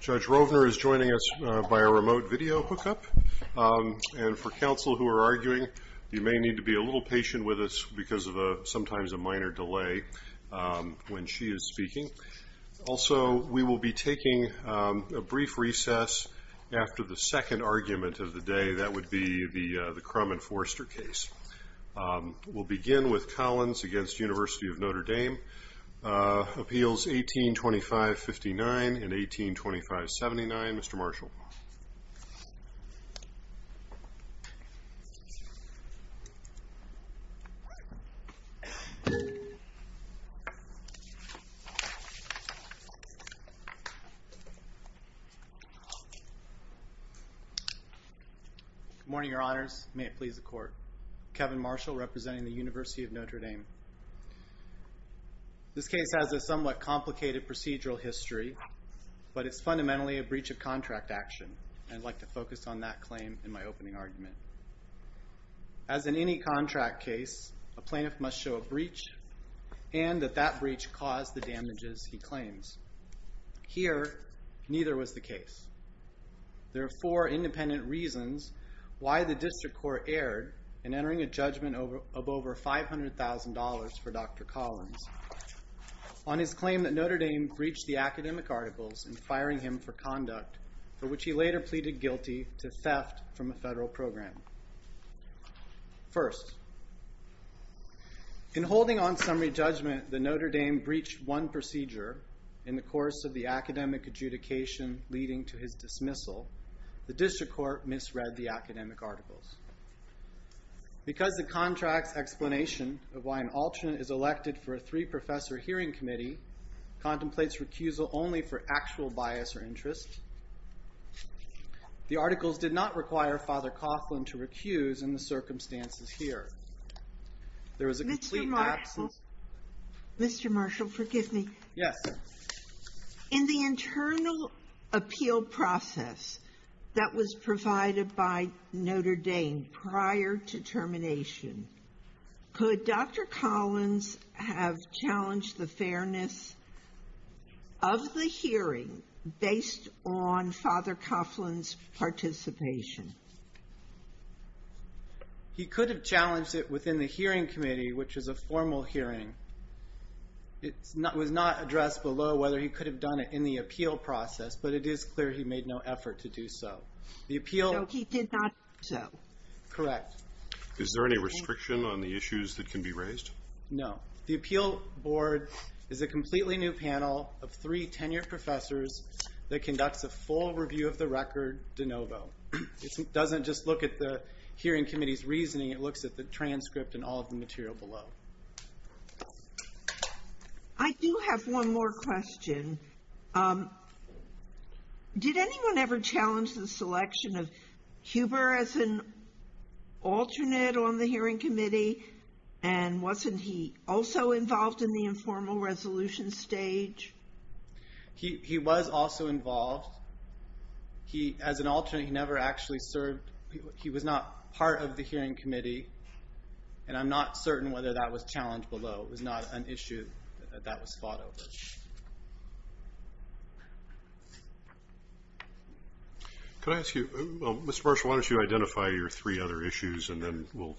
Judge Rovner is joining us by a remote video hookup and for counsel who are arguing you may need to be a little patient with us because of a sometimes a minor delay when she is speaking. Also we will be taking a brief recess after the second argument of the day that would be the the Crum and Forster case. We'll decreed at a payment of five hundred fivety three dollars fiftieth nineteen twenty five seventy nine Mr. Marshall. Good morning your honors may it please the court. Kevin Marshall representing the University of Notre Dame. This case has a somewhat complicated procedural history. But it's fundamentally a breach of contract action. I'd like to focus on that claim in my opening argument. As in any contract case a plaintiff must show a breach. And that that breach caused the damages he claims. Here neither was the case. There are four independent reasons why the district court erred in entering a judgment of over five hundred thousand dollars for Dr. Collins. On his claim that Notre Dame breached the academic articles and firing him for conduct. For which he later pleaded guilty to theft from a federal program. First. In holding on summary judgment the Notre Dame breached one procedure. In the course of the academic adjudication leading to his dismissal. The district court misread the academic articles. Because the contract's explanation of why an alternate is elected for a three professor hearing committee. Contemplates recusal only for actual bias or interest. The articles did not require Father Coughlin to recuse in the circumstances here. There was a complete absence. Mr. Marshall forgive me. Yes. In the internal appeal process. That was provided by Notre Dame prior to termination. Could Dr. Collins have challenged the fairness. Of the hearing based on Father Coughlin's participation. He could have challenged it within the hearing committee which is a formal hearing. It's not was not addressed below whether he could have done it in the appeal process. But it is clear he made no effort to do so. The appeal. He did not. So. Correct. Is there any restriction on the issues that can be raised. No. The appeal board. Is a completely new panel of three tenured professors. That conducts a full review of the record de novo. It doesn't just look at the hearing committee's reasoning. It looks at the transcript and all the material below. I do have one more question. Did anyone ever challenge the selection of Huber as an alternate on the hearing committee. And wasn't he also involved in the informal resolution stage. He was also involved. He as an alternate he never actually served. He was not part of the hearing committee. And I'm not certain whether that was challenged below. It was not an issue. That was fought over. Can I ask you. Mr. Marshall why don't you identify your three other issues and then we'll.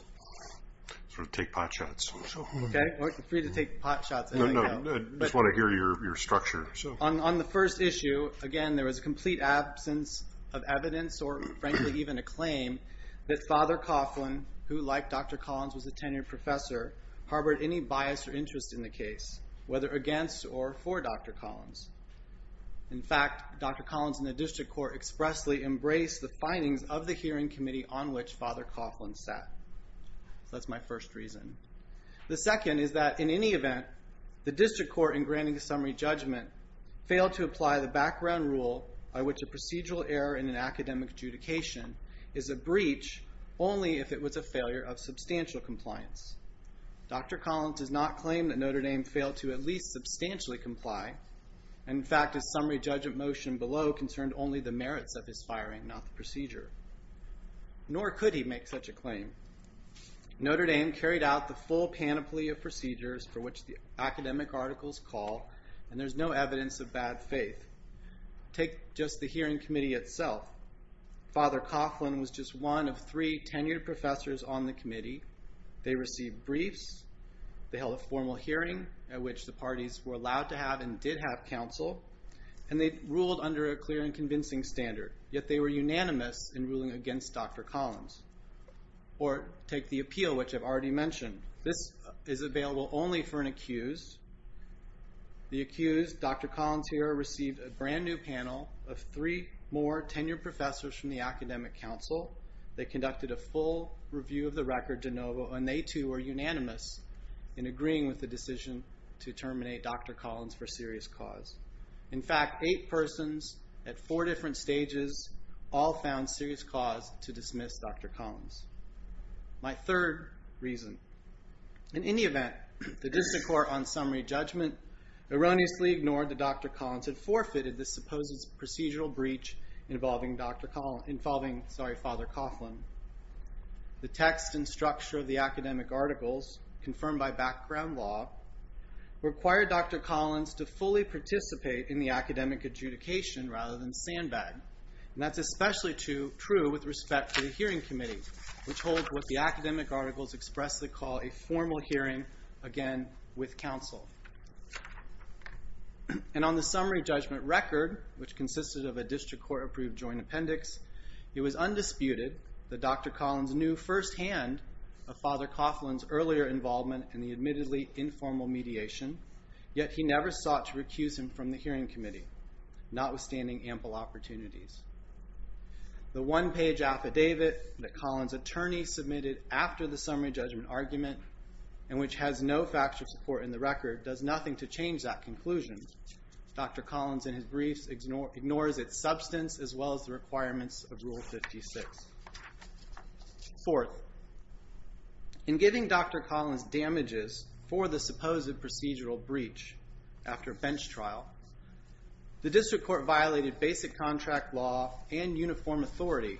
Sort of take pot shots. Okay. We're free to take pot shots. No no. I just want to hear your structure. On the first issue. Again there was a complete absence of evidence or frankly even a claim. That father Coughlin who like Dr. Collins was a tenured professor. Harbor any bias or interest in the case. Whether against or for Dr. Collins. In fact Dr. Collins in the district court expressly embrace the findings of the hearing committee on which father Coughlin sat. That's my first reason. The second is that in any event. The district court in granting the summary judgment. Failed to apply the background rule by which a is a breach. Only if it was a failure of substantial compliance. Dr. Collins does not claim that Notre Dame failed to at least substantially comply. In fact the summary judgment motion below concerned only the merits of his firing not the procedure. Nor could he make such a claim. Notre Dame carried out the full panoply of procedures for which the academic articles call. And there's no evidence of bad faith. Take just the hearing committee itself. Father Coughlin was just one of three tenured professors on the committee. They received briefs. They held a formal hearing at which the parties were allowed to have and did have counsel. And they ruled under a clear and convincing standard. Yet they were unanimous in ruling against Dr. Collins. Or take the appeal which I've already mentioned. This is available only for an accused. The accused Dr. Collins. In fact eight persons at four different stages. All found serious cause to dismiss Dr. Collins. My third reason. In any event the district court on summary judgment erroneously ignored that Dr. Collins had forfeited the procedural breach. Involving Dr. Collins. Involving sorry Father Coughlin. The text and structure of the academic articles confirmed by background law. Required Dr. Collins to fully participate in the academic adjudication rather than sandbag. And that's especially true with respect to the hearing committee. Which holds what the academic articles expressly call a formal hearing again with counsel. And on the summary judgment record which consisted of a district court approved joint appendix. It was undisputed that Dr. Collins knew firsthand of Father Coughlin's earlier involvement in the admittedly informal mediation. Yet he never sought to recuse him from the hearing committee. Notwithstanding ample opportunities. The one page affidavit that Collins attorney submitted after the summary judgment argument. And which has no factual support in the record does nothing to his briefs ignores its substance as well as the requirements of rule 56. Fourth. In giving Dr. Collins damages for the supposed procedural breach after bench trial. The district court violated basic contract law and uniform authority.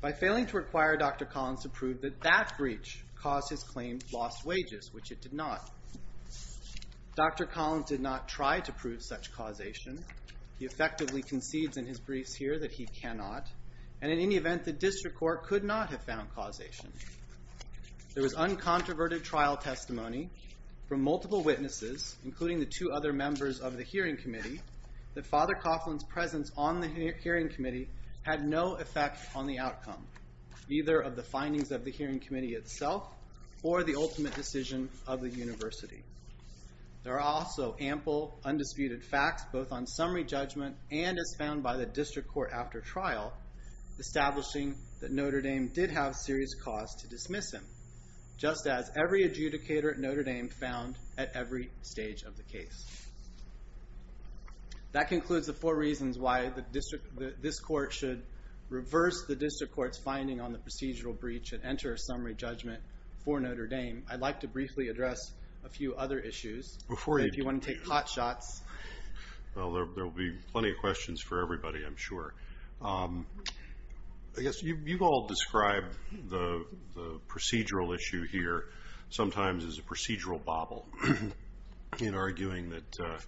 By failing to require Dr. Collins to prove that that breach caused his claim lost wages which it did not. Dr. Collins did not try to prove such causation. He effectively concedes in his briefs here that he cannot. And in any event the district court could not have found causation. There was uncontroverted trial testimony from multiple witnesses including the two other members of the hearing committee. The Father Coughlin's presence on the hearing committee had no effect on the outcome. Either of the findings of the hearing committee itself or the ultimate decision of the university. There are also ample undisputed facts both on the summary judgment and as found by the district court after trial. Establishing that Notre Dame did have serious cause to dismiss him. Just as every adjudicator at Notre Dame found at every stage of the case. That concludes the four reasons why this court should reverse the district court's finding on the procedural breach and enter a summary judgment for Notre Dame. I'd like to briefly address a few other issues. Before you want to take hot shots. Well there'll be plenty of questions for everybody I'm sure. I guess you've all described the procedural issue here sometimes as a procedural bobble in arguing that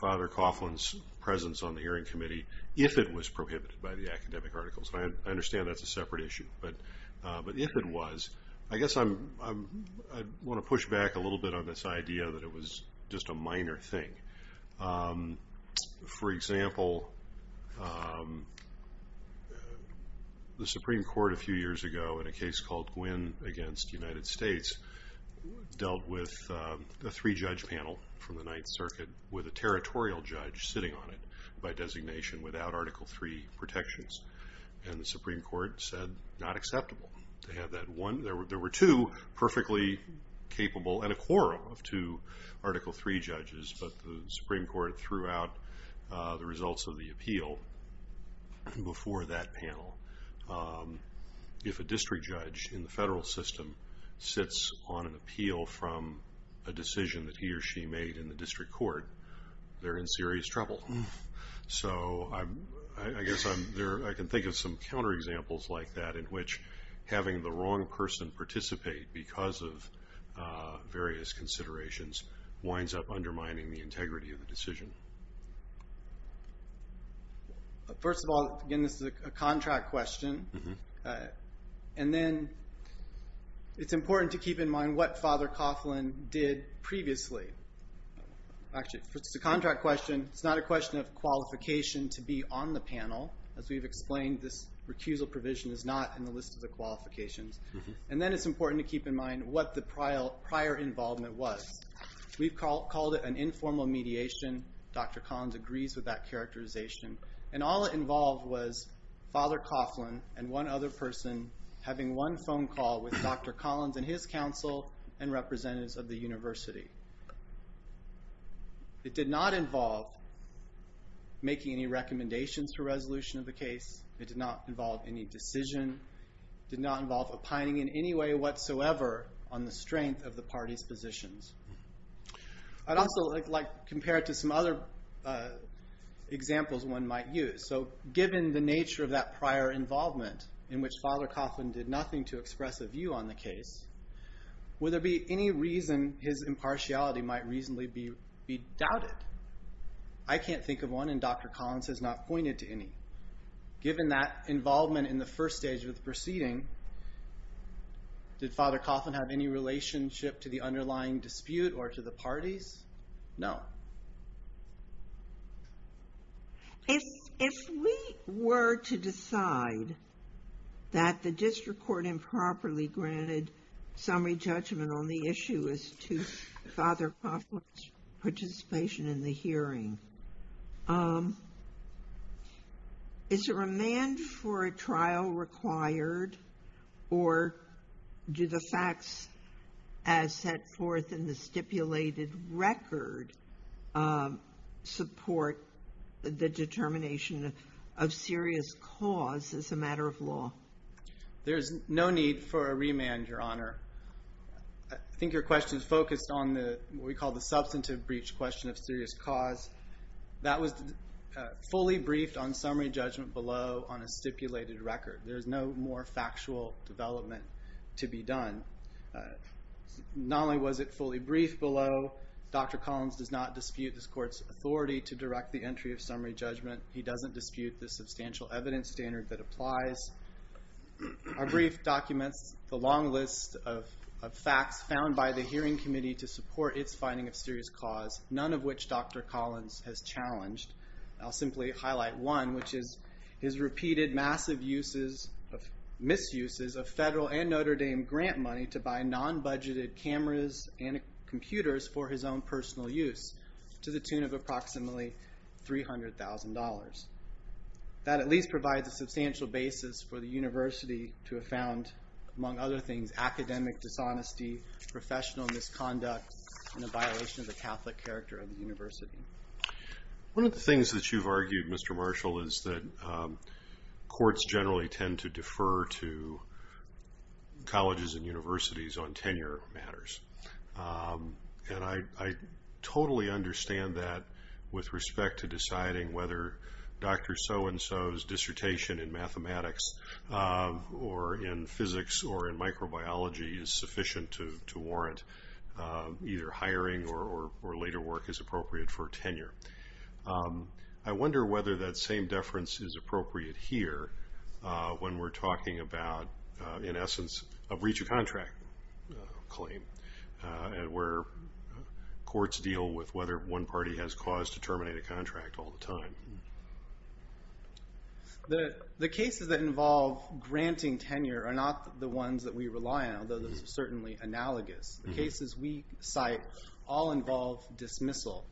Father Coughlin's presence on the hearing committee if it was prohibited by the academic articles. I understand that's a separate issue. But if it was I guess I want to push back a little bit on this idea that it was just a minor thing. For example the Supreme Court a few years ago in a case called Gwynne against United States dealt with the three judge panel from the Ninth Circuit with a territorial judge sitting on it by designation without Article 3 protections. And the Supreme Court said not acceptable to have that one. There were two perfectly capable and a quorum of two Article 3 judges. But the Supreme Court threw out the results of that. So the appeal before that panel if a district judge in the federal system sits on an appeal from a decision that he or she made in the district court they're in serious trouble. So I guess I can think of some counterexamples like that in which having the wrong person participate because of various considerations winds up undermining the integrity of the decision. First of all again this is a contract question. And then it's important to keep in mind what Father Coughlin did previously. Actually it's a contract question. It's not a question of qualification to be on the panel. As we've explained this recusal provision is not in the list of qualifications. And then it's important to keep in mind what the prior involvement was. We've called it an informal mediation. Dr. Collins agrees with that characterization. And all it involved was Father Coughlin and one other person having one phone call with Dr. Collins and his counsel and representatives of the university. It did not involve making any recommendations for resolution of the case. It did not involve any decision. It did not involve opining in any way whatsoever on the strength of the party's positions. I'd also like to compare it to some other examples one might use. So given the nature of that prior involvement in which Father Coughlin did nothing to express a view on the case, would there be any reason his impartiality might reasonably be doubted? I can't think of one and Dr. Collins has not pointed to any. Given that involvement in the first stage of the proceeding, did Father Coughlin have any relationship to the underlying dispute or to the parties? No. If we were to decide that the district court improperly granted summary judgment on the issue as to Father Coughlin's participation in the hearing, is a remand for a trial required or do the facts as set forth in the stipulated record support the determination of serious cause as a matter of law? There's no need for a remand, Your Honor. I think your question is focused on what we call the substantive breach question of serious cause. That was fully briefed on summary judgment below on a stipulated record. There's no more factual development to be done. Not only was it fully briefed below, Dr. Collins does not dispute this court's authority to direct the entry of summary judgment. He doesn't dispute the substantial evidence standard that applies. Our brief documents the long list of facts found by the hearing committee to support its finding of serious cause, none of which Dr. Collins has challenged. I'll simply highlight one, which is his repeated massive misuses of federal and Notre Dame grant money to buy non-budgeted cameras and computers for his own personal use to the tune of approximately $300,000. That at least provides a substantial basis for the university to have found, among other things, academic dishonesty, professional misconduct, and a violation of the Catholic character of the university. One of the things that you've argued, Mr. Marshall, is that courts generally tend to defer to colleges and universities on tenure matters. I totally understand that with respect to deciding whether Dr. So-and-so's dissertation in mathematics or in physics or in microbiology is sufficient to warrant either hiring or later work is appropriate for tenure. I wonder whether that same deference is appropriate here when we're talking about, in essence, a breach of contract claim where courts deal with whether one party has cause to terminate a contract all the time. The cases that involve granting tenure are not the ones that we rely on, although those are certainly analogous. The cases we cite all involve dismissal,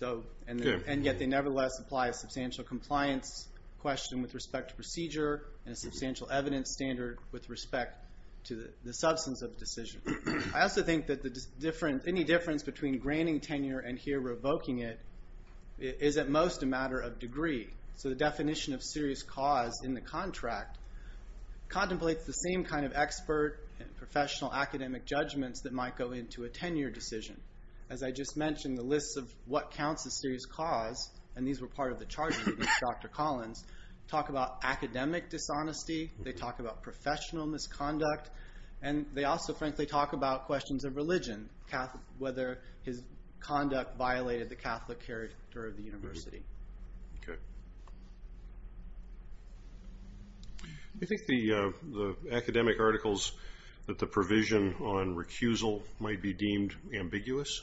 and yet they nevertheless apply a substantial compliance question with respect to procedure and a substantial evidence standard with respect to the substance of the decision. I also think that any difference between granting tenure and here revoking it is at most a matter of degree. So the definition of serious cause in the contract contemplates the same kind of expert and professional academic judgments that might go into a tenure decision. As I just mentioned, the lists of what counts as serious cause, and these were part of the charges against Dr. Collins, talk about academic dishonesty. They talk about professional misconduct, and they also, frankly, talk about questions of religion, whether his conduct violated the Catholic character of the university. I think the academic articles that the provision on recusal might be deemed ambiguous.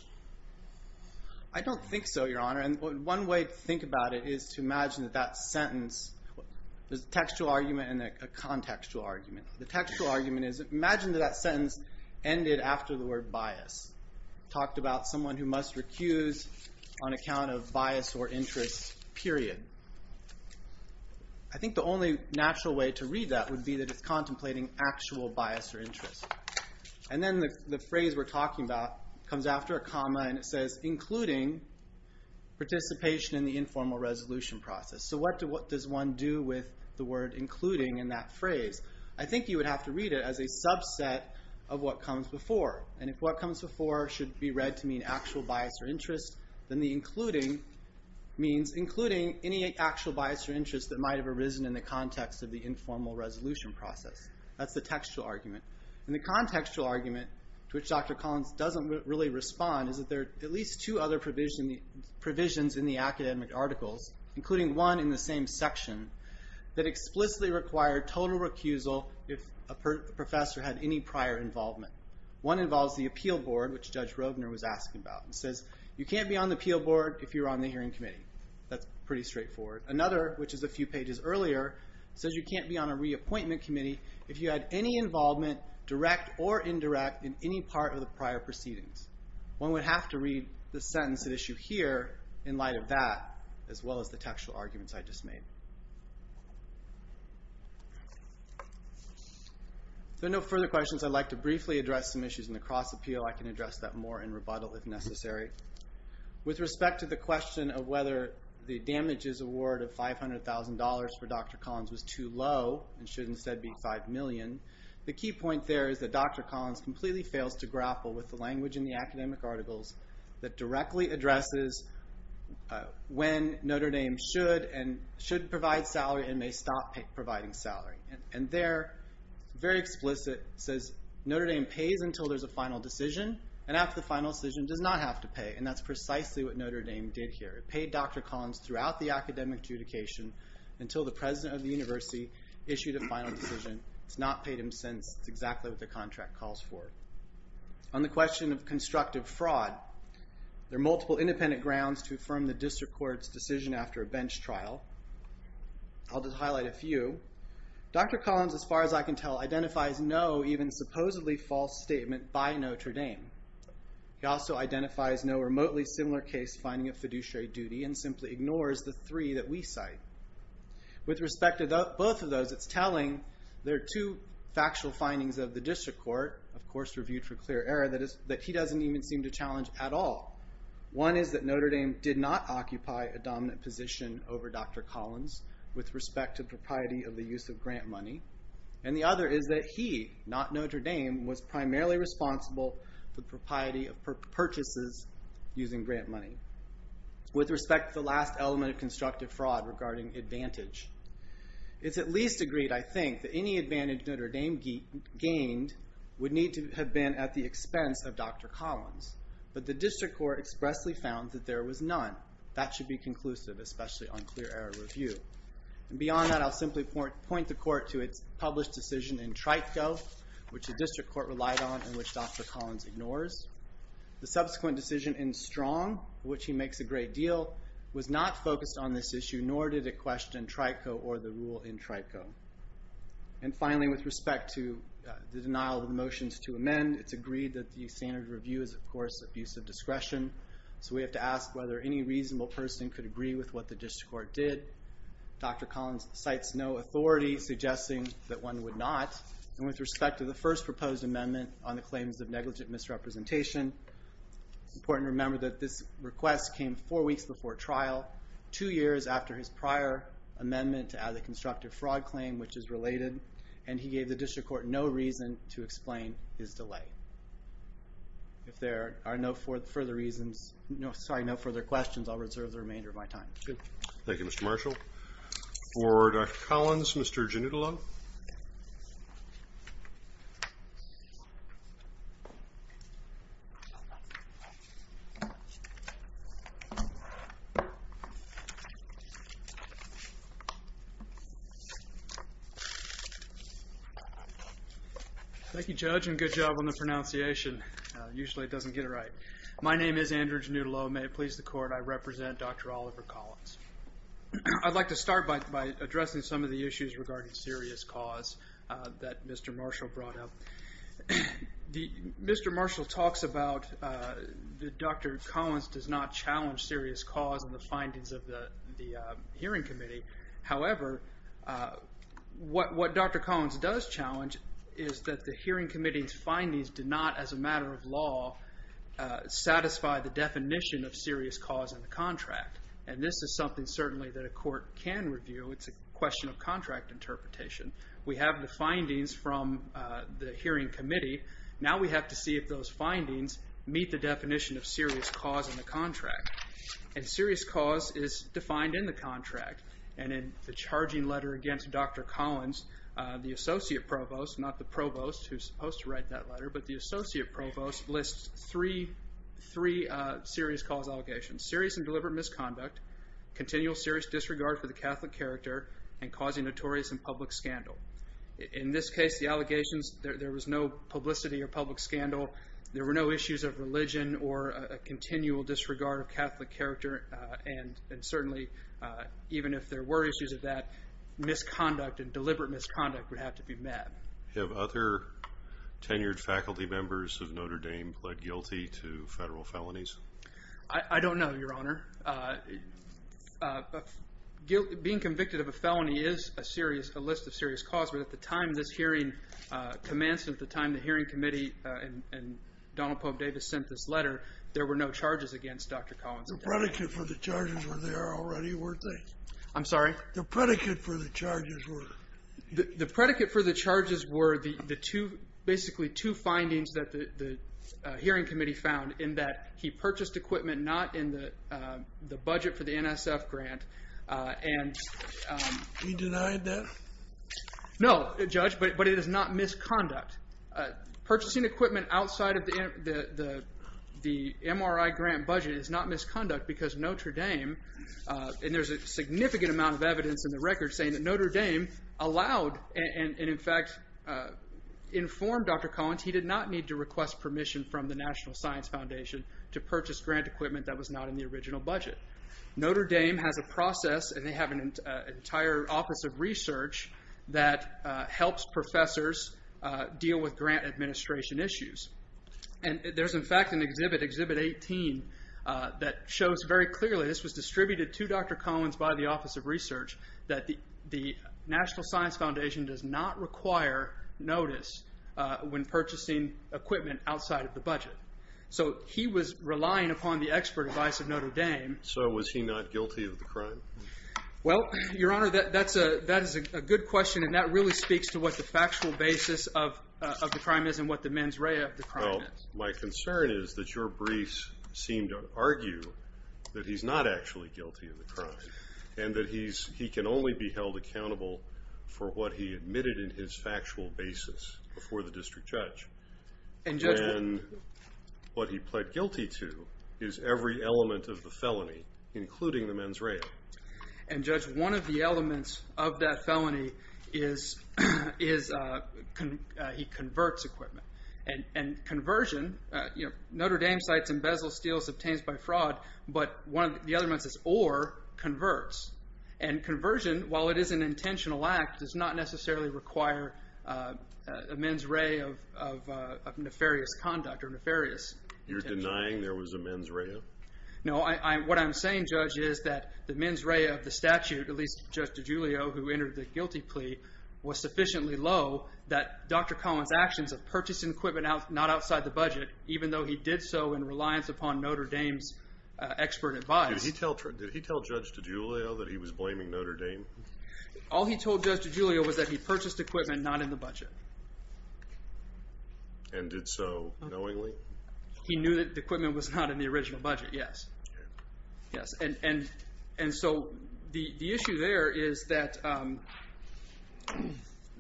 I don't think so, Your Honor. One way to think about it is to imagine that that sentence, there's a textual argument and a contextual argument. The textual argument is imagine that that sentence ended after the word bias. It talked about someone who must recuse on account of bias or interest, period. I think the only natural way to read that would be that it's contemplating actual bias or interest. Then the phrase we're talking about comes after a comma, and it says, including participation in the informal resolution process. So what does one do with the word including in that phrase? I think you would have to read it as a subset of what comes before. If what comes before should be read to mean actual bias or interest, then the including means including any actual bias or interest that might have arisen in the context of the informal resolution process. That's the textual argument. The contextual argument, which Dr. Collins doesn't really respond, is that there are at least two other provisions in the academic articles, including one in the same section, that explicitly require total recusal if a professor had any prior involvement. One involves the appeal board, which Judge Robner was asking about. It says, you can't be on the appeal board if you're on the hearing committee. That's pretty straightforward. Another, which is a few pages earlier, says you can't be on a reappointment committee if you had any involvement, direct or indirect, in any part of the prior proceedings. One would have to read the sentence at issue here in light of that, as well as the textual arguments I just made. If there are no further questions, I'd like to briefly address some issues in the cross appeal. I can address that more in rebuttal if necessary. With respect to the question of whether the damages award of $500,000 for Dr. Collins was too low and should instead be $5 million, the key point there is that Dr. Collins completely fails to grapple with the language in the academic articles that directly addresses when Notre Dame should provide salary and may stop providing salary. There, very explicit, it says Notre Dame pays until there's a final decision. After the final decision, it does not have to pay. That's precisely what Notre Dame did here. It paid Dr. Collins throughout the academic adjudication until the president of the university issued a final decision. It's not paid him since. It's exactly what the contract calls for. On the question of constructive fraud, there are multiple independent grounds to affirm the district court's decision after a bench trial. I'll just highlight a few. Dr. Collins, as far as I can tell, identifies no even supposedly false statement by Notre Dame. He also identifies no remotely similar case finding of fiduciary duty and simply ignores the three that we cite. With respect to both of those, it's telling. There are two factual findings of the district court, of course reviewed for clear error, that he doesn't even seem to challenge at all. One is that Notre Dame did not occupy a dominant position over Dr. Collins with respect to propriety of the use of grant money. And the other is that he, not Notre Dame, was primarily responsible for propriety of purchases using grant money. With respect to the last element of constructive fraud regarding advantage. It's at least agreed, I think, that any advantage Notre Dame gained would need to have been at the expense of Dr. Collins. But the district court expressly found that there was none. That should be conclusive, especially on clear error review. And beyond that, I'll simply point the court to its published decision in Trico, which the district court relied on and which Dr. Collins ignores. The subsequent decision in Strong, which he makes a great deal, was not focused on this issue, nor did it question Trico or the rule in Trico. And finally, with respect to the denial of the motions to amend, it's agreed that the standard review is, of course, abuse of discretion. So we have to ask whether any reasonable person could agree with what the district court did. Dr. Collins cites no authority, suggesting that one would not. And with respect to the first proposed amendment on the claims of negligent misrepresentation, it's important to remember that this request came four weeks before trial. Two years after his prior amendment to add the constructive fraud claim, which is related. And he gave the district court no reason to explain his delay. If there are no further questions, I'll reserve the remainder of my time. Thank you, Mr. Marshall. For Dr. Collins, Mr. Giannullo. Thank you, Judge, and good job on the pronunciation. Usually it doesn't get it right. My name is Andrew Giannullo. May it please the court, I represent Dr. Oliver Collins. I'd like to start by addressing some of the issues regarding serious cause that Mr. Marshall brought up. Mr. Marshall talks about that Dr. Collins does not challenge serious cause in the findings of the hearing committee. However, what Dr. Collins does challenge is that the hearing committee's findings do not, as a matter of law, satisfy the definition of serious cause in the contract. And this is something certainly that a court can review. It's a question of contract interpretation. We have the findings from the hearing committee. Now we have to see if those findings meet the definition of serious cause in the contract. And serious cause is defined in the contract. And in the charging letter against Dr. Collins, the associate provost, not the provost who's supposed to write that letter, but the associate provost lists three serious cause allegations. Serious and deliberate misconduct, continual serious disregard for the Catholic character, and causing notorious and public scandal. In this case, the allegations, there was no publicity or public scandal. There were no issues of religion or a continual disregard of Catholic character. And certainly, even if there were issues of that, misconduct and deliberate misconduct would have to be met. Have other tenured faculty members of Notre Dame pled guilty to federal felonies? I don't know, Your Honor. Being convicted of a felony is a list of serious cause. But at the time this hearing commenced, at the time the hearing committee and Donald Pope Davis sent this letter, there were no charges against Dr. Collins. The predicate for the charges were there already, weren't they? I'm sorry? The predicate for the charges were? The predicate for the charges were the two, basically two findings that the hearing committee found in that he purchased equipment not in the budget for the NSF grant and... He denied that? No, Judge, but it is not misconduct. Purchasing equipment outside of the MRI grant budget is not misconduct because Notre Dame, and there's a significant amount of evidence in the record saying that Notre Dame allowed and in fact informed Dr. Collins he did not need to request permission from the National Science Foundation to purchase grant equipment that was not in the original budget. Notre Dame has a process and they have an entire office of research that helps professors deal with grant administration issues. And there's in fact an exhibit, exhibit 18, that shows very clearly this was distributed to Dr. Collins by the office of research that the National Science Foundation does not require notice when purchasing equipment outside of the budget. So he was relying upon the expert advice of Notre Dame. So was he not guilty of the crime? Well, Your Honor, that is a good question and that really speaks to what the factual basis of the crime is and what the mens rea of the crime is. Well, my concern is that your briefs seem to argue that he's not actually guilty of the crime and that he can only be held accountable for what he admitted in his factual basis before the district judge. And what he pled guilty to is every element of the felony, including the mens rea. And Judge, one of the elements of that felony is he converts equipment. And conversion, you know, Notre Dame cites embezzle, steals, obtains by fraud, but one of the elements is or converts. And conversion, while it is an intentional act, does not necessarily require a mens rea of nefarious conduct or nefarious intention. You're denying there was a mens rea? No, what I'm saying, Judge, is that the mens rea of the statute, at least Judge DiGiulio, who entered the guilty plea, was sufficiently low that Dr. Collins' actions of purchasing equipment not outside the budget, even though he did so in reliance upon Notre Dame's expert advice. Did he tell Judge DiGiulio that he was blaming Notre Dame? All he told Judge DiGiulio was that he purchased equipment not in the budget. And did so knowingly? He knew that the equipment was not in the original budget, yes. And so the issue there is that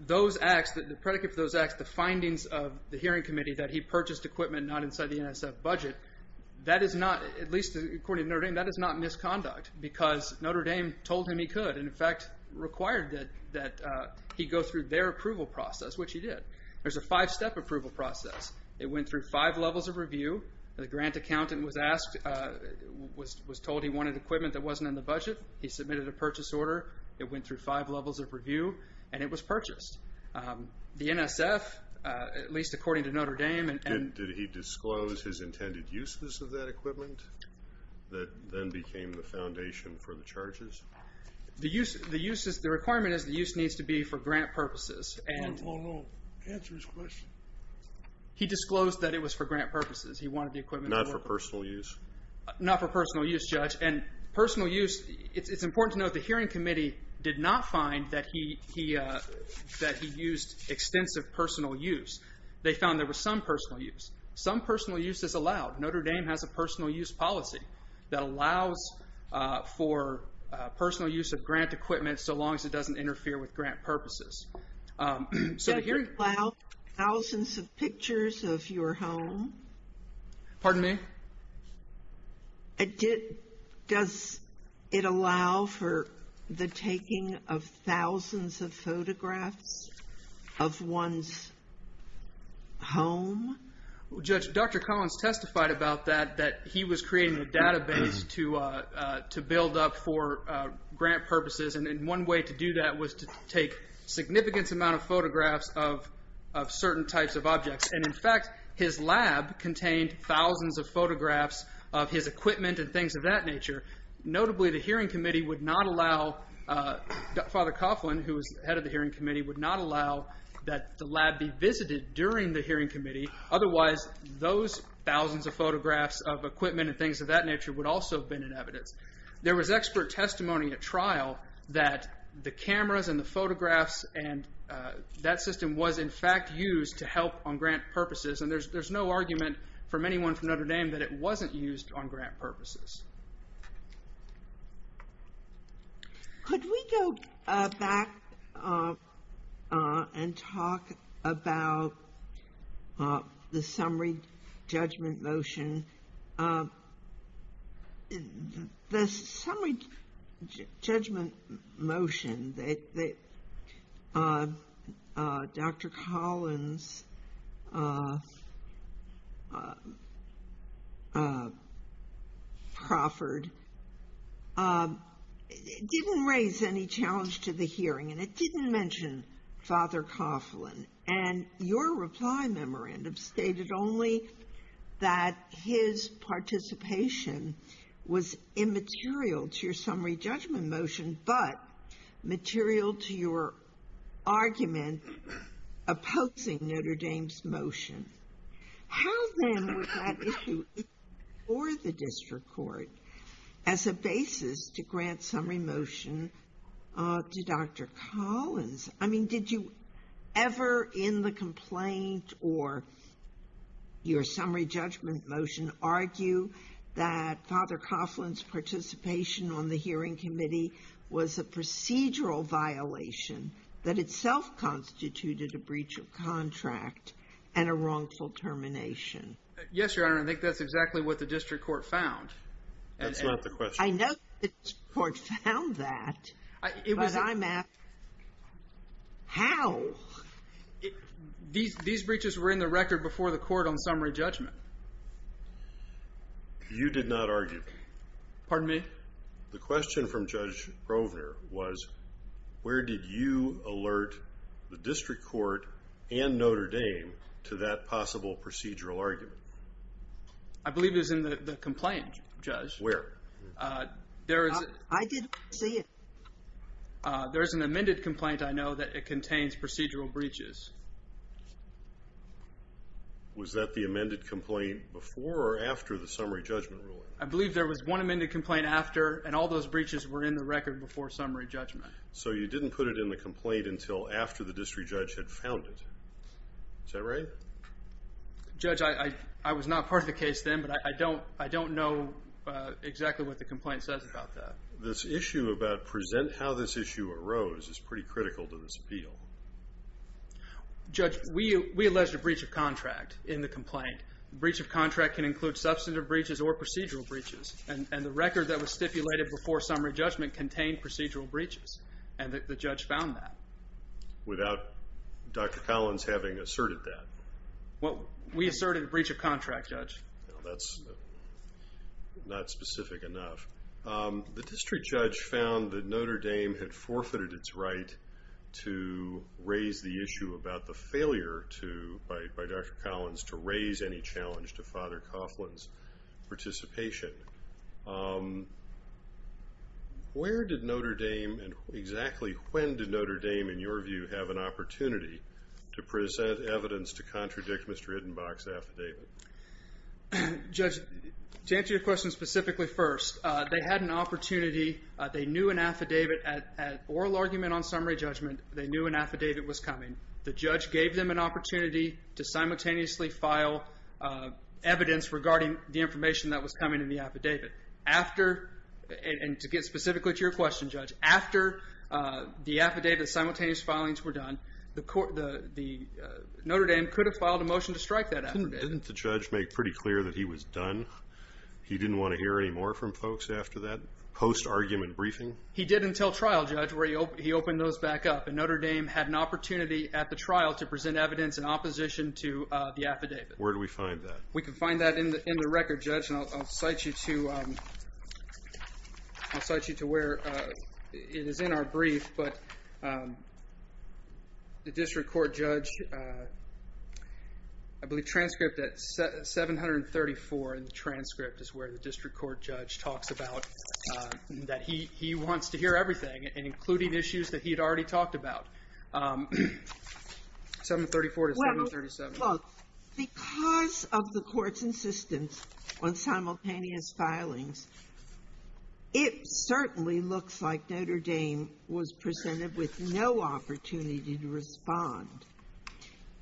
those acts, the predicate for those acts, the findings of the hearing committee that he purchased equipment not inside the NSF budget, that is not, at least according to Notre Dame, that is not misconduct because Notre Dame told him he could and, in fact, required that he go through their approval process, which he did. There's a five-step approval process. It went through five levels of review. The grant accountant was asked, was told he wanted equipment that wasn't in the budget. He submitted a purchase order. It went through five levels of review, and it was purchased. The NSF, at least according to Notre Dame, Did he disclose his intended uses of that equipment that then became the foundation for the charges? The requirement is the use needs to be for grant purposes. Answer his question. He disclosed that it was for grant purposes. He wanted the equipment. Not for personal use? Not for personal use, Judge. And personal use, it's important to note the hearing committee did not find that he used extensive personal use. They found there was some personal use. Some personal use is allowed. Notre Dame has a personal use policy that allows for personal use of grant equipment so long as it doesn't interfere with grant purposes. Does it allow thousands of pictures of your home? Pardon me? Does it allow for the taking of thousands of photographs of one's home? Judge, Dr. Collins testified about that, that he was creating a database to build up for grant purposes. And one way to do that was to take a significant amount of photographs of certain types of objects. And in fact, his lab contained thousands of photographs of his equipment and things of that nature. Notably, the hearing committee would not allow Father Coughlin, who was head of the hearing committee, would not allow that the lab be visited during the hearing committee. Otherwise, those thousands of photographs of equipment and things of that nature would also have been in evidence. There was expert testimony at trial that the cameras and the photographs and that system was in fact used to help on grant purposes. And there's no argument from anyone from Notre Dame that it wasn't used on grant purposes. Could we go back and talk about the summary judgment motion? The summary judgment motion that Dr. Collins proffered didn't raise any challenge to the hearing. And it didn't mention Father Coughlin. And your reply memorandum stated only that his participation was immaterial to your summary judgment motion, but material to your argument opposing Notre Dame's motion. How then was that issue before the district court as a basis to grant summary motion to Dr. Collins? I mean, did you ever in the complaint or your summary judgment motion argue that Father Coughlin's participation on the hearing committee was a procedural violation that itself constituted a breach of contract and a wrongful termination? Yes, Your Honor. I think that's exactly what the district court found. That's not the question. I know the district court found that, but I'm asking how? These breaches were in the record before the court on summary judgment. You did not argue. Pardon me? The question from Judge Grovner was where did you alert the district court and Notre Dame to that possible procedural argument? I believe it was in the complaint, Judge. Where? I didn't see it. There's an amended complaint I know that it contains procedural breaches. Was that the amended complaint before or after the summary judgment ruling? I believe there was one amended complaint after, and all those breaches were in the record before summary judgment. So you didn't put it in the complaint until after the district judge had found it. Is that right? Judge, I was not part of the case then, but I don't know exactly what the complaint says about that. This issue about present how this issue arose is pretty critical to this appeal. Judge, we alleged a breach of contract in the complaint. A breach of contract can include substantive breaches or procedural breaches, and the record that was stipulated before summary judgment contained procedural breaches, and the judge found that. Without Dr. Collins having asserted that? We asserted a breach of contract, Judge. That's not specific enough. The district judge found that Notre Dame had forfeited its right to raise the issue about the failure by Dr. Collins to raise any challenge to Father Coughlin's participation. Where did Notre Dame, and exactly when did Notre Dame, in your view, have an opportunity to present evidence to contradict Mr. Hiddenbach's affidavit? Judge, to answer your question specifically first, they had an opportunity. They knew an affidavit at oral argument on summary judgment. They knew an affidavit was coming. The judge gave them an opportunity to simultaneously file evidence regarding the information that was coming in the affidavit. And to get specifically to your question, Judge, after the affidavit's simultaneous filings were done, Notre Dame could have filed a motion to strike that affidavit. Didn't the judge make pretty clear that he was done? He didn't want to hear any more from folks after that post-argument briefing? He did until trial, Judge, where he opened those back up, and Notre Dame had an opportunity at the trial to present evidence in opposition to the affidavit. Where do we find that? We can find that in the record, Judge, and I'll cite you to where it is in our brief. But the district court judge, I believe transcript at 734 in the transcript is where the district court judge talks about that he wants to hear everything, including issues that he had already talked about. 734 to 737. Look, because of the court's insistence on simultaneous filings, it certainly looks like Notre Dame was presented with no opportunity to respond.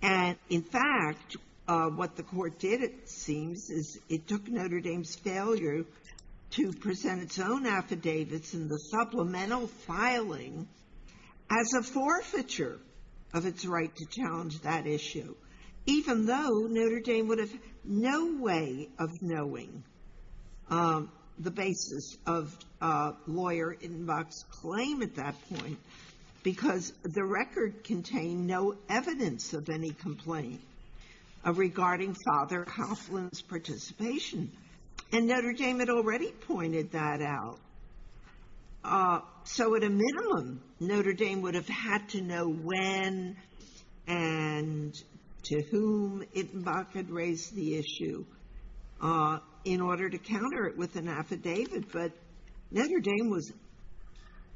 And, in fact, what the court did, it seems, is it took Notre Dame's failure to present its own affidavits in the supplemental filing as a forfeiture of its right to challenge that issue, even though Notre Dame would have no way of knowing the basis of a lawyer-in-box claim at that point because the record contained no evidence of any complaint regarding Father Hofland's participation. And Notre Dame had already pointed that out. So, at a minimum, Notre Dame would have had to know when and to whom it might have raised the issue in order to counter it with an affidavit, but Notre Dame was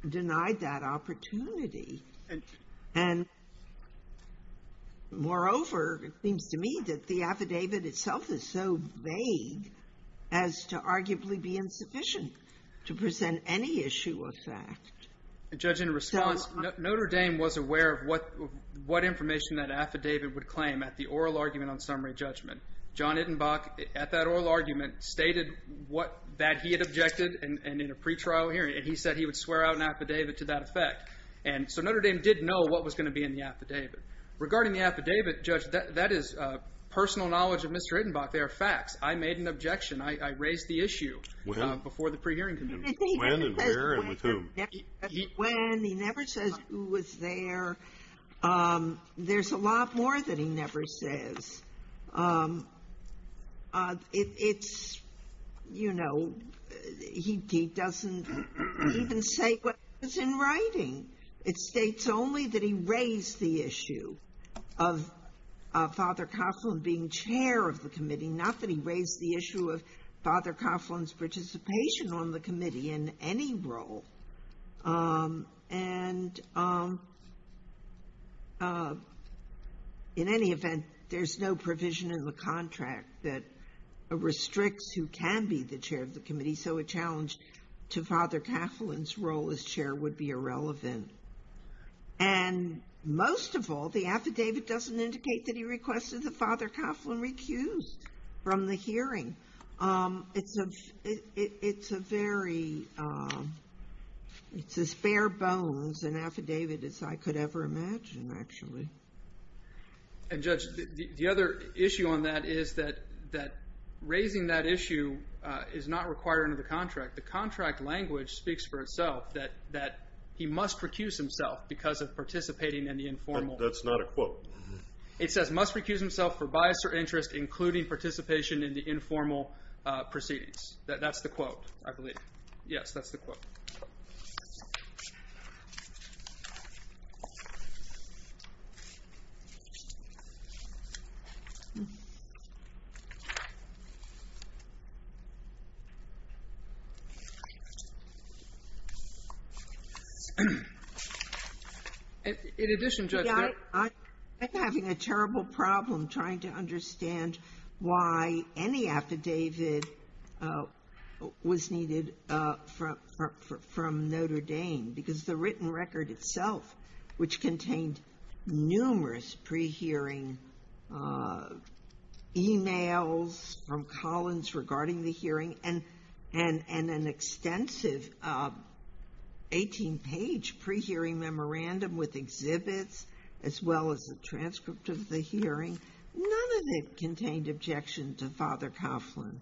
denied that opportunity. And, moreover, it seems to me that the affidavit itself is so vague as to arguably be insufficient to present any issue or fact. Judge, in response, Notre Dame was aware of what information that affidavit would claim at the oral argument on summary judgment. John Ittenbach, at that oral argument, stated that he had objected in a pretrial hearing, and he said he would swear out an affidavit to that effect. And so Notre Dame did know what was going to be in the affidavit. Regarding the affidavit, Judge, that is personal knowledge of Mr. Ittenbach. There are facts. I made an objection. I raised the issue before the pre-hearing. When and where and with whom? When, he never says who was there. There's a lot more that he never says. It's, you know, he doesn't even say what was in writing. It states only that he raised the issue of Father Coughlin being chair of the committee, not that he raised the issue of Father Coughlin's participation on the committee in any role. And in any event, there's no provision in the contract that restricts who can be the chair of the committee, so a challenge to Father Coughlin's role as chair would be irrelevant. And most of all, the affidavit doesn't indicate that he requested that Father Coughlin recuse from the hearing. It's a very, it's as bare bones an affidavit as I could ever imagine, actually. And, Judge, the other issue on that is that raising that issue is not required under the contract. The contract language speaks for itself that he must recuse himself because of participating in the informal. That's not a quote. It says, must recuse himself for bias or interest including participation in the informal proceedings. That's the quote, I believe. Yes, that's the quote. In addition, Judge, I'm having a terrible problem trying to understand why any affidavit was needed from Notre Dame because the written record itself, which contained numerous pre-hearing emails from Collins regarding the hearing and an extensive 18-page pre-hearing memorandum with exhibits as well as a transcript of the hearing, none of it contained objection to Father Coughlin.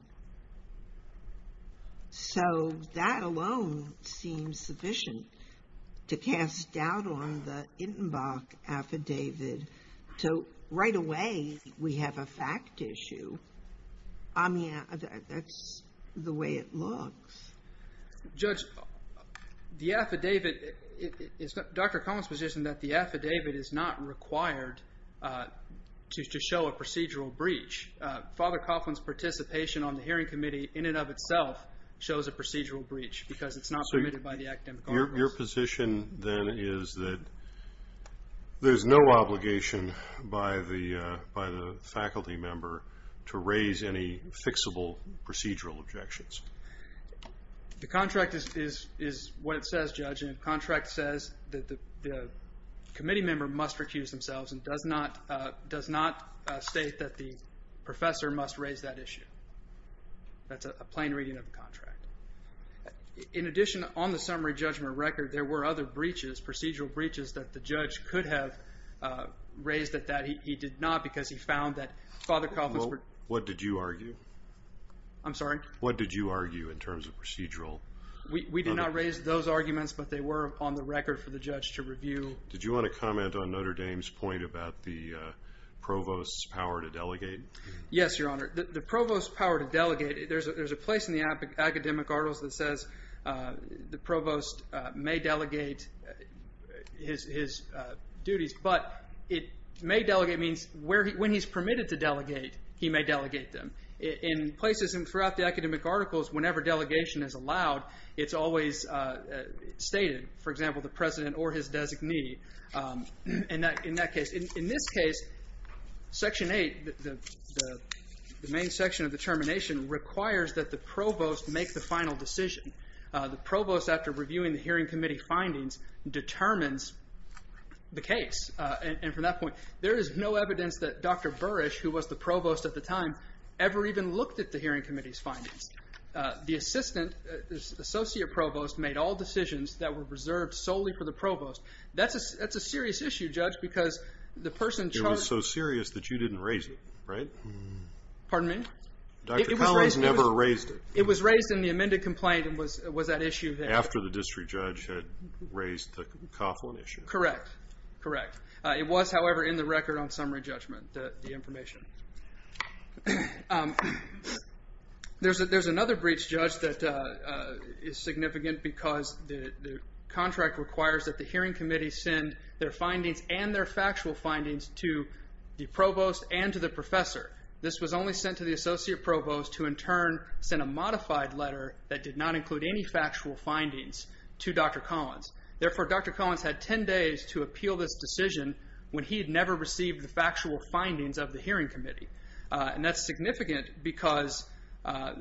So that alone seems sufficient to cast doubt on the Ittenbach affidavit until right away we have a fact issue. I mean, that's the way it looks. Judge, the affidavit, it's Dr. Collins' position that the affidavit is not required to show a procedural breach. Father Coughlin's participation on the hearing committee in and of itself shows a procedural breach because it's not permitted by the academic articles. Your position then is that there's no obligation by the faculty member to raise any fixable procedural objections. The contract is what it says, Judge, and the contract says that the committee member must recuse themselves and does not state that the professor must raise that issue. That's a plain reading of the contract. In addition, on the summary judgment record, there were other procedural breaches that the judge could have raised at that. He did not because he found that Father Coughlin's particular Well, what did you argue? I'm sorry? What did you argue in terms of procedural? We did not raise those arguments, but they were on the record for the judge to review. Did you want to comment on Notre Dame's point about the provost's power to delegate? Yes, Your Honor. The provost's power to delegate, there's a place in the academic articles that says the provost may delegate his duties, but it may delegate means when he's permitted to delegate, he may delegate them. In places throughout the academic articles, whenever delegation is allowed, it's always stated. For example, the president or his designee in that case. In this case, Section 8, the main section of the termination, requires that the provost make the final decision. The provost, after reviewing the hearing committee findings, determines the case. From that point, there is no evidence that Dr. Burrish, who was the provost at the time, ever even looked at the hearing committee's findings. The assistant, the associate provost, made all decisions that were reserved solely for the provost. That's a serious issue, Judge, because the person charged... It was so serious that you didn't raise it, right? Pardon me? Dr. Collins never raised it. It was raised in the amended complaint. It was that issue that... After the district judge had raised the Coughlin issue. Correct, correct. It was, however, in the record on summary judgment, the information. There's another breach, Judge, that is significant because the contract requires that the hearing committee send their findings and their factual findings to the provost and to the professor. This was only sent to the associate provost, who in turn sent a modified letter that did not include any factual findings to Dr. Collins. Therefore, Dr. Collins had 10 days to appeal this decision when he had never received the factual findings of the hearing committee. And that's significant because... A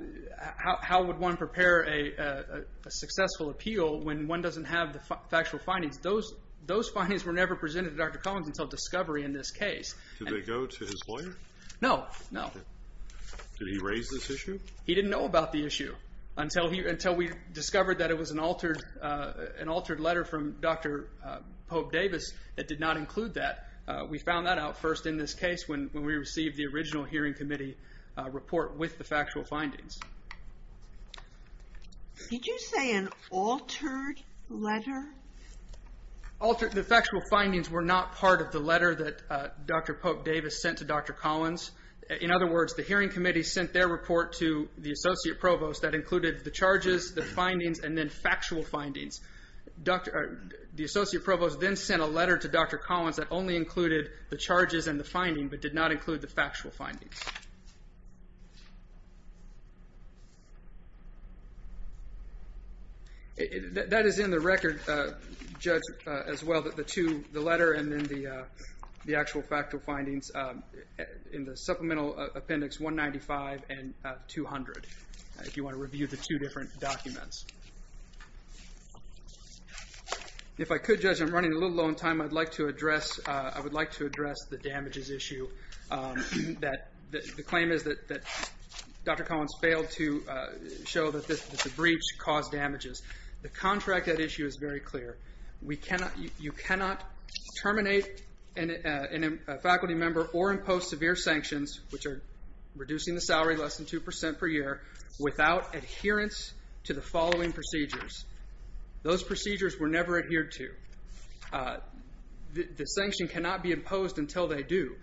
successful appeal, when one doesn't have the factual findings, those findings were never presented to Dr. Collins until discovery in this case. Did they go to his lawyer? No, no. Did he raise this issue? He didn't know about the issue until we discovered that it was an altered letter from Dr. Pope Davis that did not include that. We found that out first in this case when we received the original hearing committee report with the factual findings. Did you say an altered letter? The factual findings were not part of the letter that Dr. Pope Davis sent to Dr. Collins. In other words, the hearing committee sent their report to the associate provost that included the charges, the findings, and then factual findings. The associate provost then sent a letter to Dr. Collins that only included the charges and the finding but did not include the factual findings. That is in the record, Judge, as well, the letter and then the actual factual findings in the supplemental appendix 195 and 200 if you want to review the two different documents. If I could, Judge, I'm running a little low on time. I would like to address the damages issue. The claim is that Dr. Collins failed to show that the breach caused damages. The contract at issue is very clear. You cannot terminate a faculty member or impose severe sanctions, which are reducing the salary less than 2% per year, without adherence to the following procedures. Those procedures were never adhered to. The sanction cannot be imposed until they do.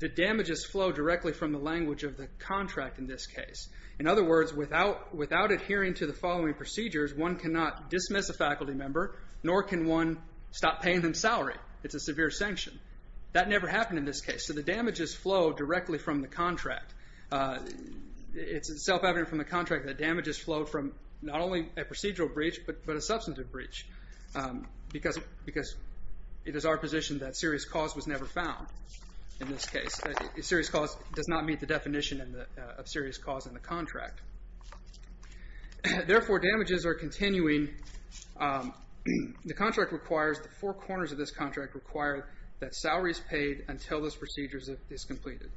The damages flow directly from the language of the contract in this case. In other words, without adhering to the following procedures, one cannot dismiss a faculty member, nor can one stop paying them salary. It's a severe sanction. That never happened in this case, so the damages flow directly from the contract. It's self-evident from the contract that damages flowed from not only a procedural breach but a substantive breach because it is our position that serious cause was never found. In this case, serious cause does not meet the definition of serious cause in the contract. Therefore, damages are continuing. The four corners of this contract require that salaries paid until this procedure is completed.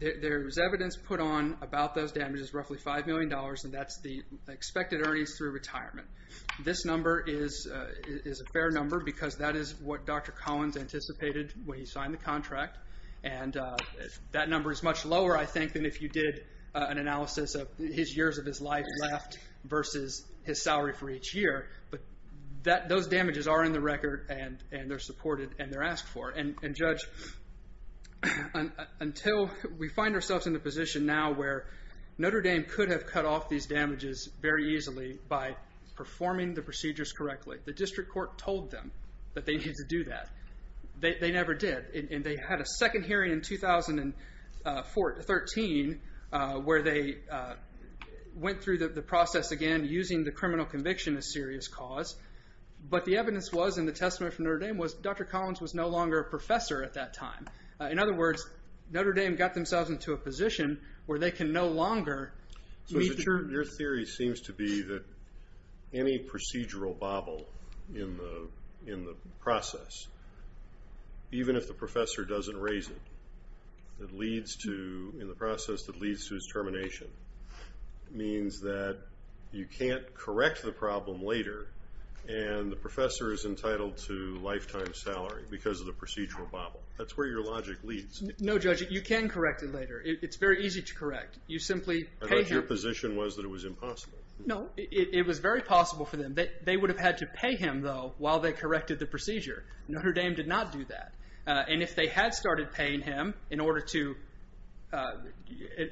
There is evidence put on about those damages, roughly $5 million, and that's the expected earnings through retirement. This number is a fair number because that is what Dr. Collins anticipated when he signed the contract. That number is much lower, I think, than if you did an analysis of his years of his life left versus his salary for each year. Those damages are in the record, and they're supported, and they're asked for. Judge, until we find ourselves in the position now where Notre Dame could have cut off these damages very easily by performing the procedures correctly. The district court told them that they needed to do that. They never did. They had a second hearing in 2013 where they went through the process again using the criminal conviction as serious cause, but the evidence was in the testament from Notre Dame was Dr. Collins was no longer a professor at that time. In other words, Notre Dame got themselves into a position where they can no longer meet their... Even if the professor doesn't raise it, it leads to, in the process, it leads to his termination. It means that you can't correct the problem later, and the professor is entitled to lifetime salary because of the procedural bobble. That's where your logic leads. No, Judge, you can correct it later. It's very easy to correct. You simply pay him. But your position was that it was impossible. No, it was very possible for them. They would have had to pay him, though, while they corrected the procedure. Notre Dame did not do that. And if they had started paying him in order to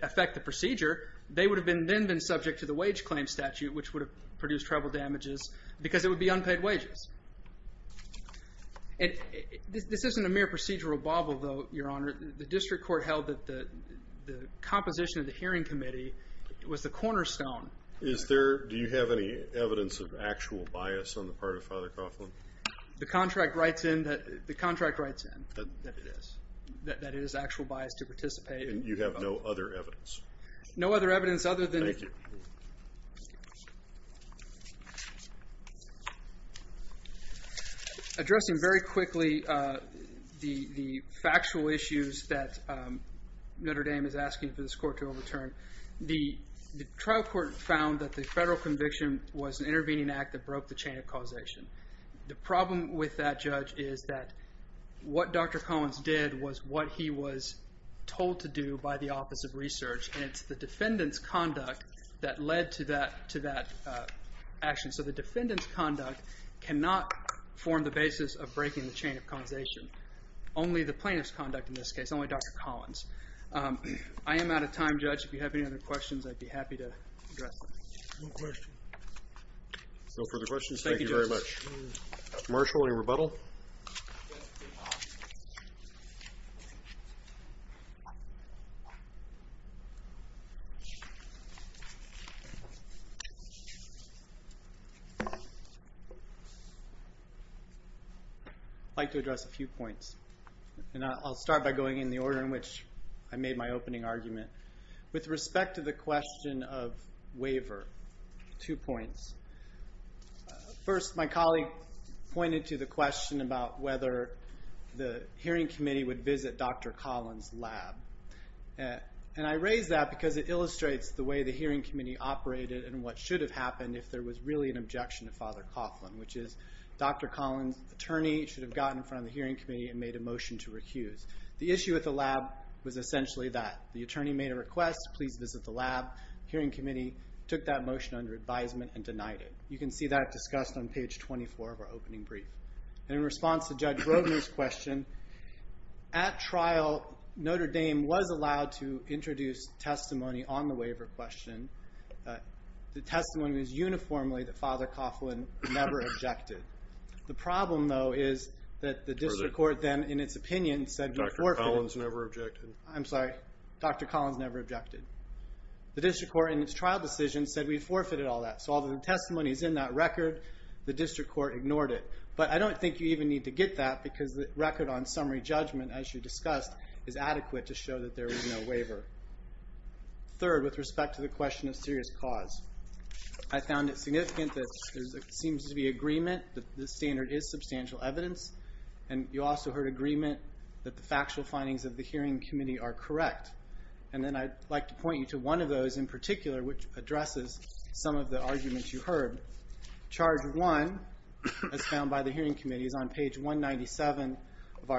affect the procedure, they would have then been subject to the wage claim statute, which would have produced treble damages because it would be unpaid wages. This isn't a mere procedural bobble, though, Your Honor. The district court held that the composition of the hearing committee was the cornerstone. Do you have any evidence of actual bias on the part of Father Coughlin? The contract writes in that it is actual bias to participate. And you have no other evidence? No other evidence other than... Thank you. Addressing very quickly the factual issues that Notre Dame is asking for this court to overturn, the trial court found that the federal conviction was an intervening act that broke the chain of causation. The problem with that, Judge, is that what Dr. Collins did was what he was told to do by the Office of Research, and it's the defendant's conduct that led to that action. So the defendant's conduct cannot form the basis of breaking the chain of causation. Only the plaintiff's conduct in this case, only Dr. Collins. I am out of time, Judge. If you have any other questions, I'd be happy to address them. No further questions. Thank you very much. Marshal, any rebuttal? I'd like to address a few points. And I'll start by going in the order in which I made my opening argument. With respect to the question of waiver, two points. First, my colleague pointed to the question about whether the hearing committee would visit Dr. Collins' lab. And I raise that because it illustrates the way the hearing committee operated and what should have happened if there was really an objection to Father Coughlin, which is Dr. Collins' attorney should have gotten in front of the hearing committee and made a motion to recuse. The issue with the lab was essentially that. The attorney made a request, please visit the lab. The hearing committee took that motion under advisement and denied it. You can see that discussed on page 24 of our opening brief. And in response to Judge Brogan's question, at trial, Notre Dame was allowed to introduce testimony on the waiver question. The testimony was uniformly that Father Coughlin never objected. The problem, though, is that the district court then, in its opinion, said Dr. Collins never objected. I'm sorry, Dr. Collins never objected. The district court, in its trial decision, said we forfeited all that. So all the testimonies in that record, the district court ignored it. But I don't think you even need to get that because the record on summary judgment, as you discussed, is adequate to show that there was no waiver. Third, with respect to the question of serious cause, I found it significant that there seems to be agreement that the standard is substantial evidence. And you also heard agreement that the factual findings of the hearing committee are correct. And then I'd like to point you to one of those in particular, which addresses some of the arguments you heard. Charge 1, as found by the hearing committee, is on page 197 of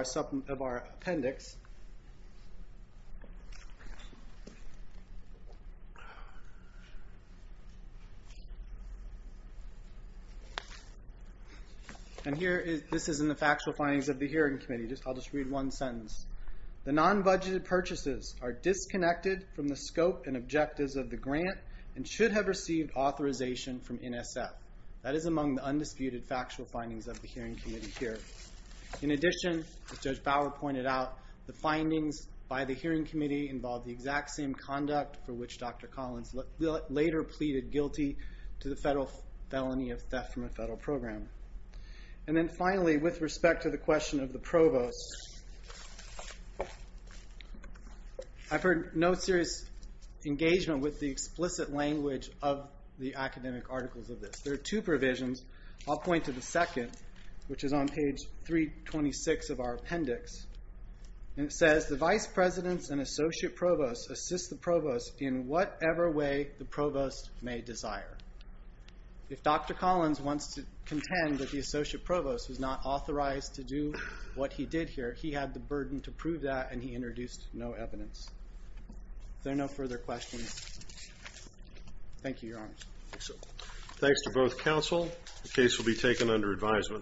our appendix. And this is in the factual findings of the hearing committee. I'll just read one sentence. The non-budgeted purchases are disconnected from the scope and objectives of the grant and should have received authorization from NSF. That is among the undisputed factual findings of the hearing committee here. In addition, as Judge Bauer pointed out, the findings by the hearing committee involve the exact same conduct for which Dr. Collins later pleaded guilty to the federal felony of theft from a federal program. And then finally, with respect to the question of the provost, I've heard no serious engagement with the explicit language of the academic articles of this. There are two provisions. I'll point to the second, which is on page 326 of our appendix. And it says, the vice presidents and associate provosts assist the provost in whatever way the provost may desire. If Dr. Collins wants to contend that the associate provost was not authorized to do what he did here, he had the burden to prove that, and he introduced no evidence. Are there no further questions? Thank you, Your Honor. Thanks to both counsel. The case will be taken under advisement.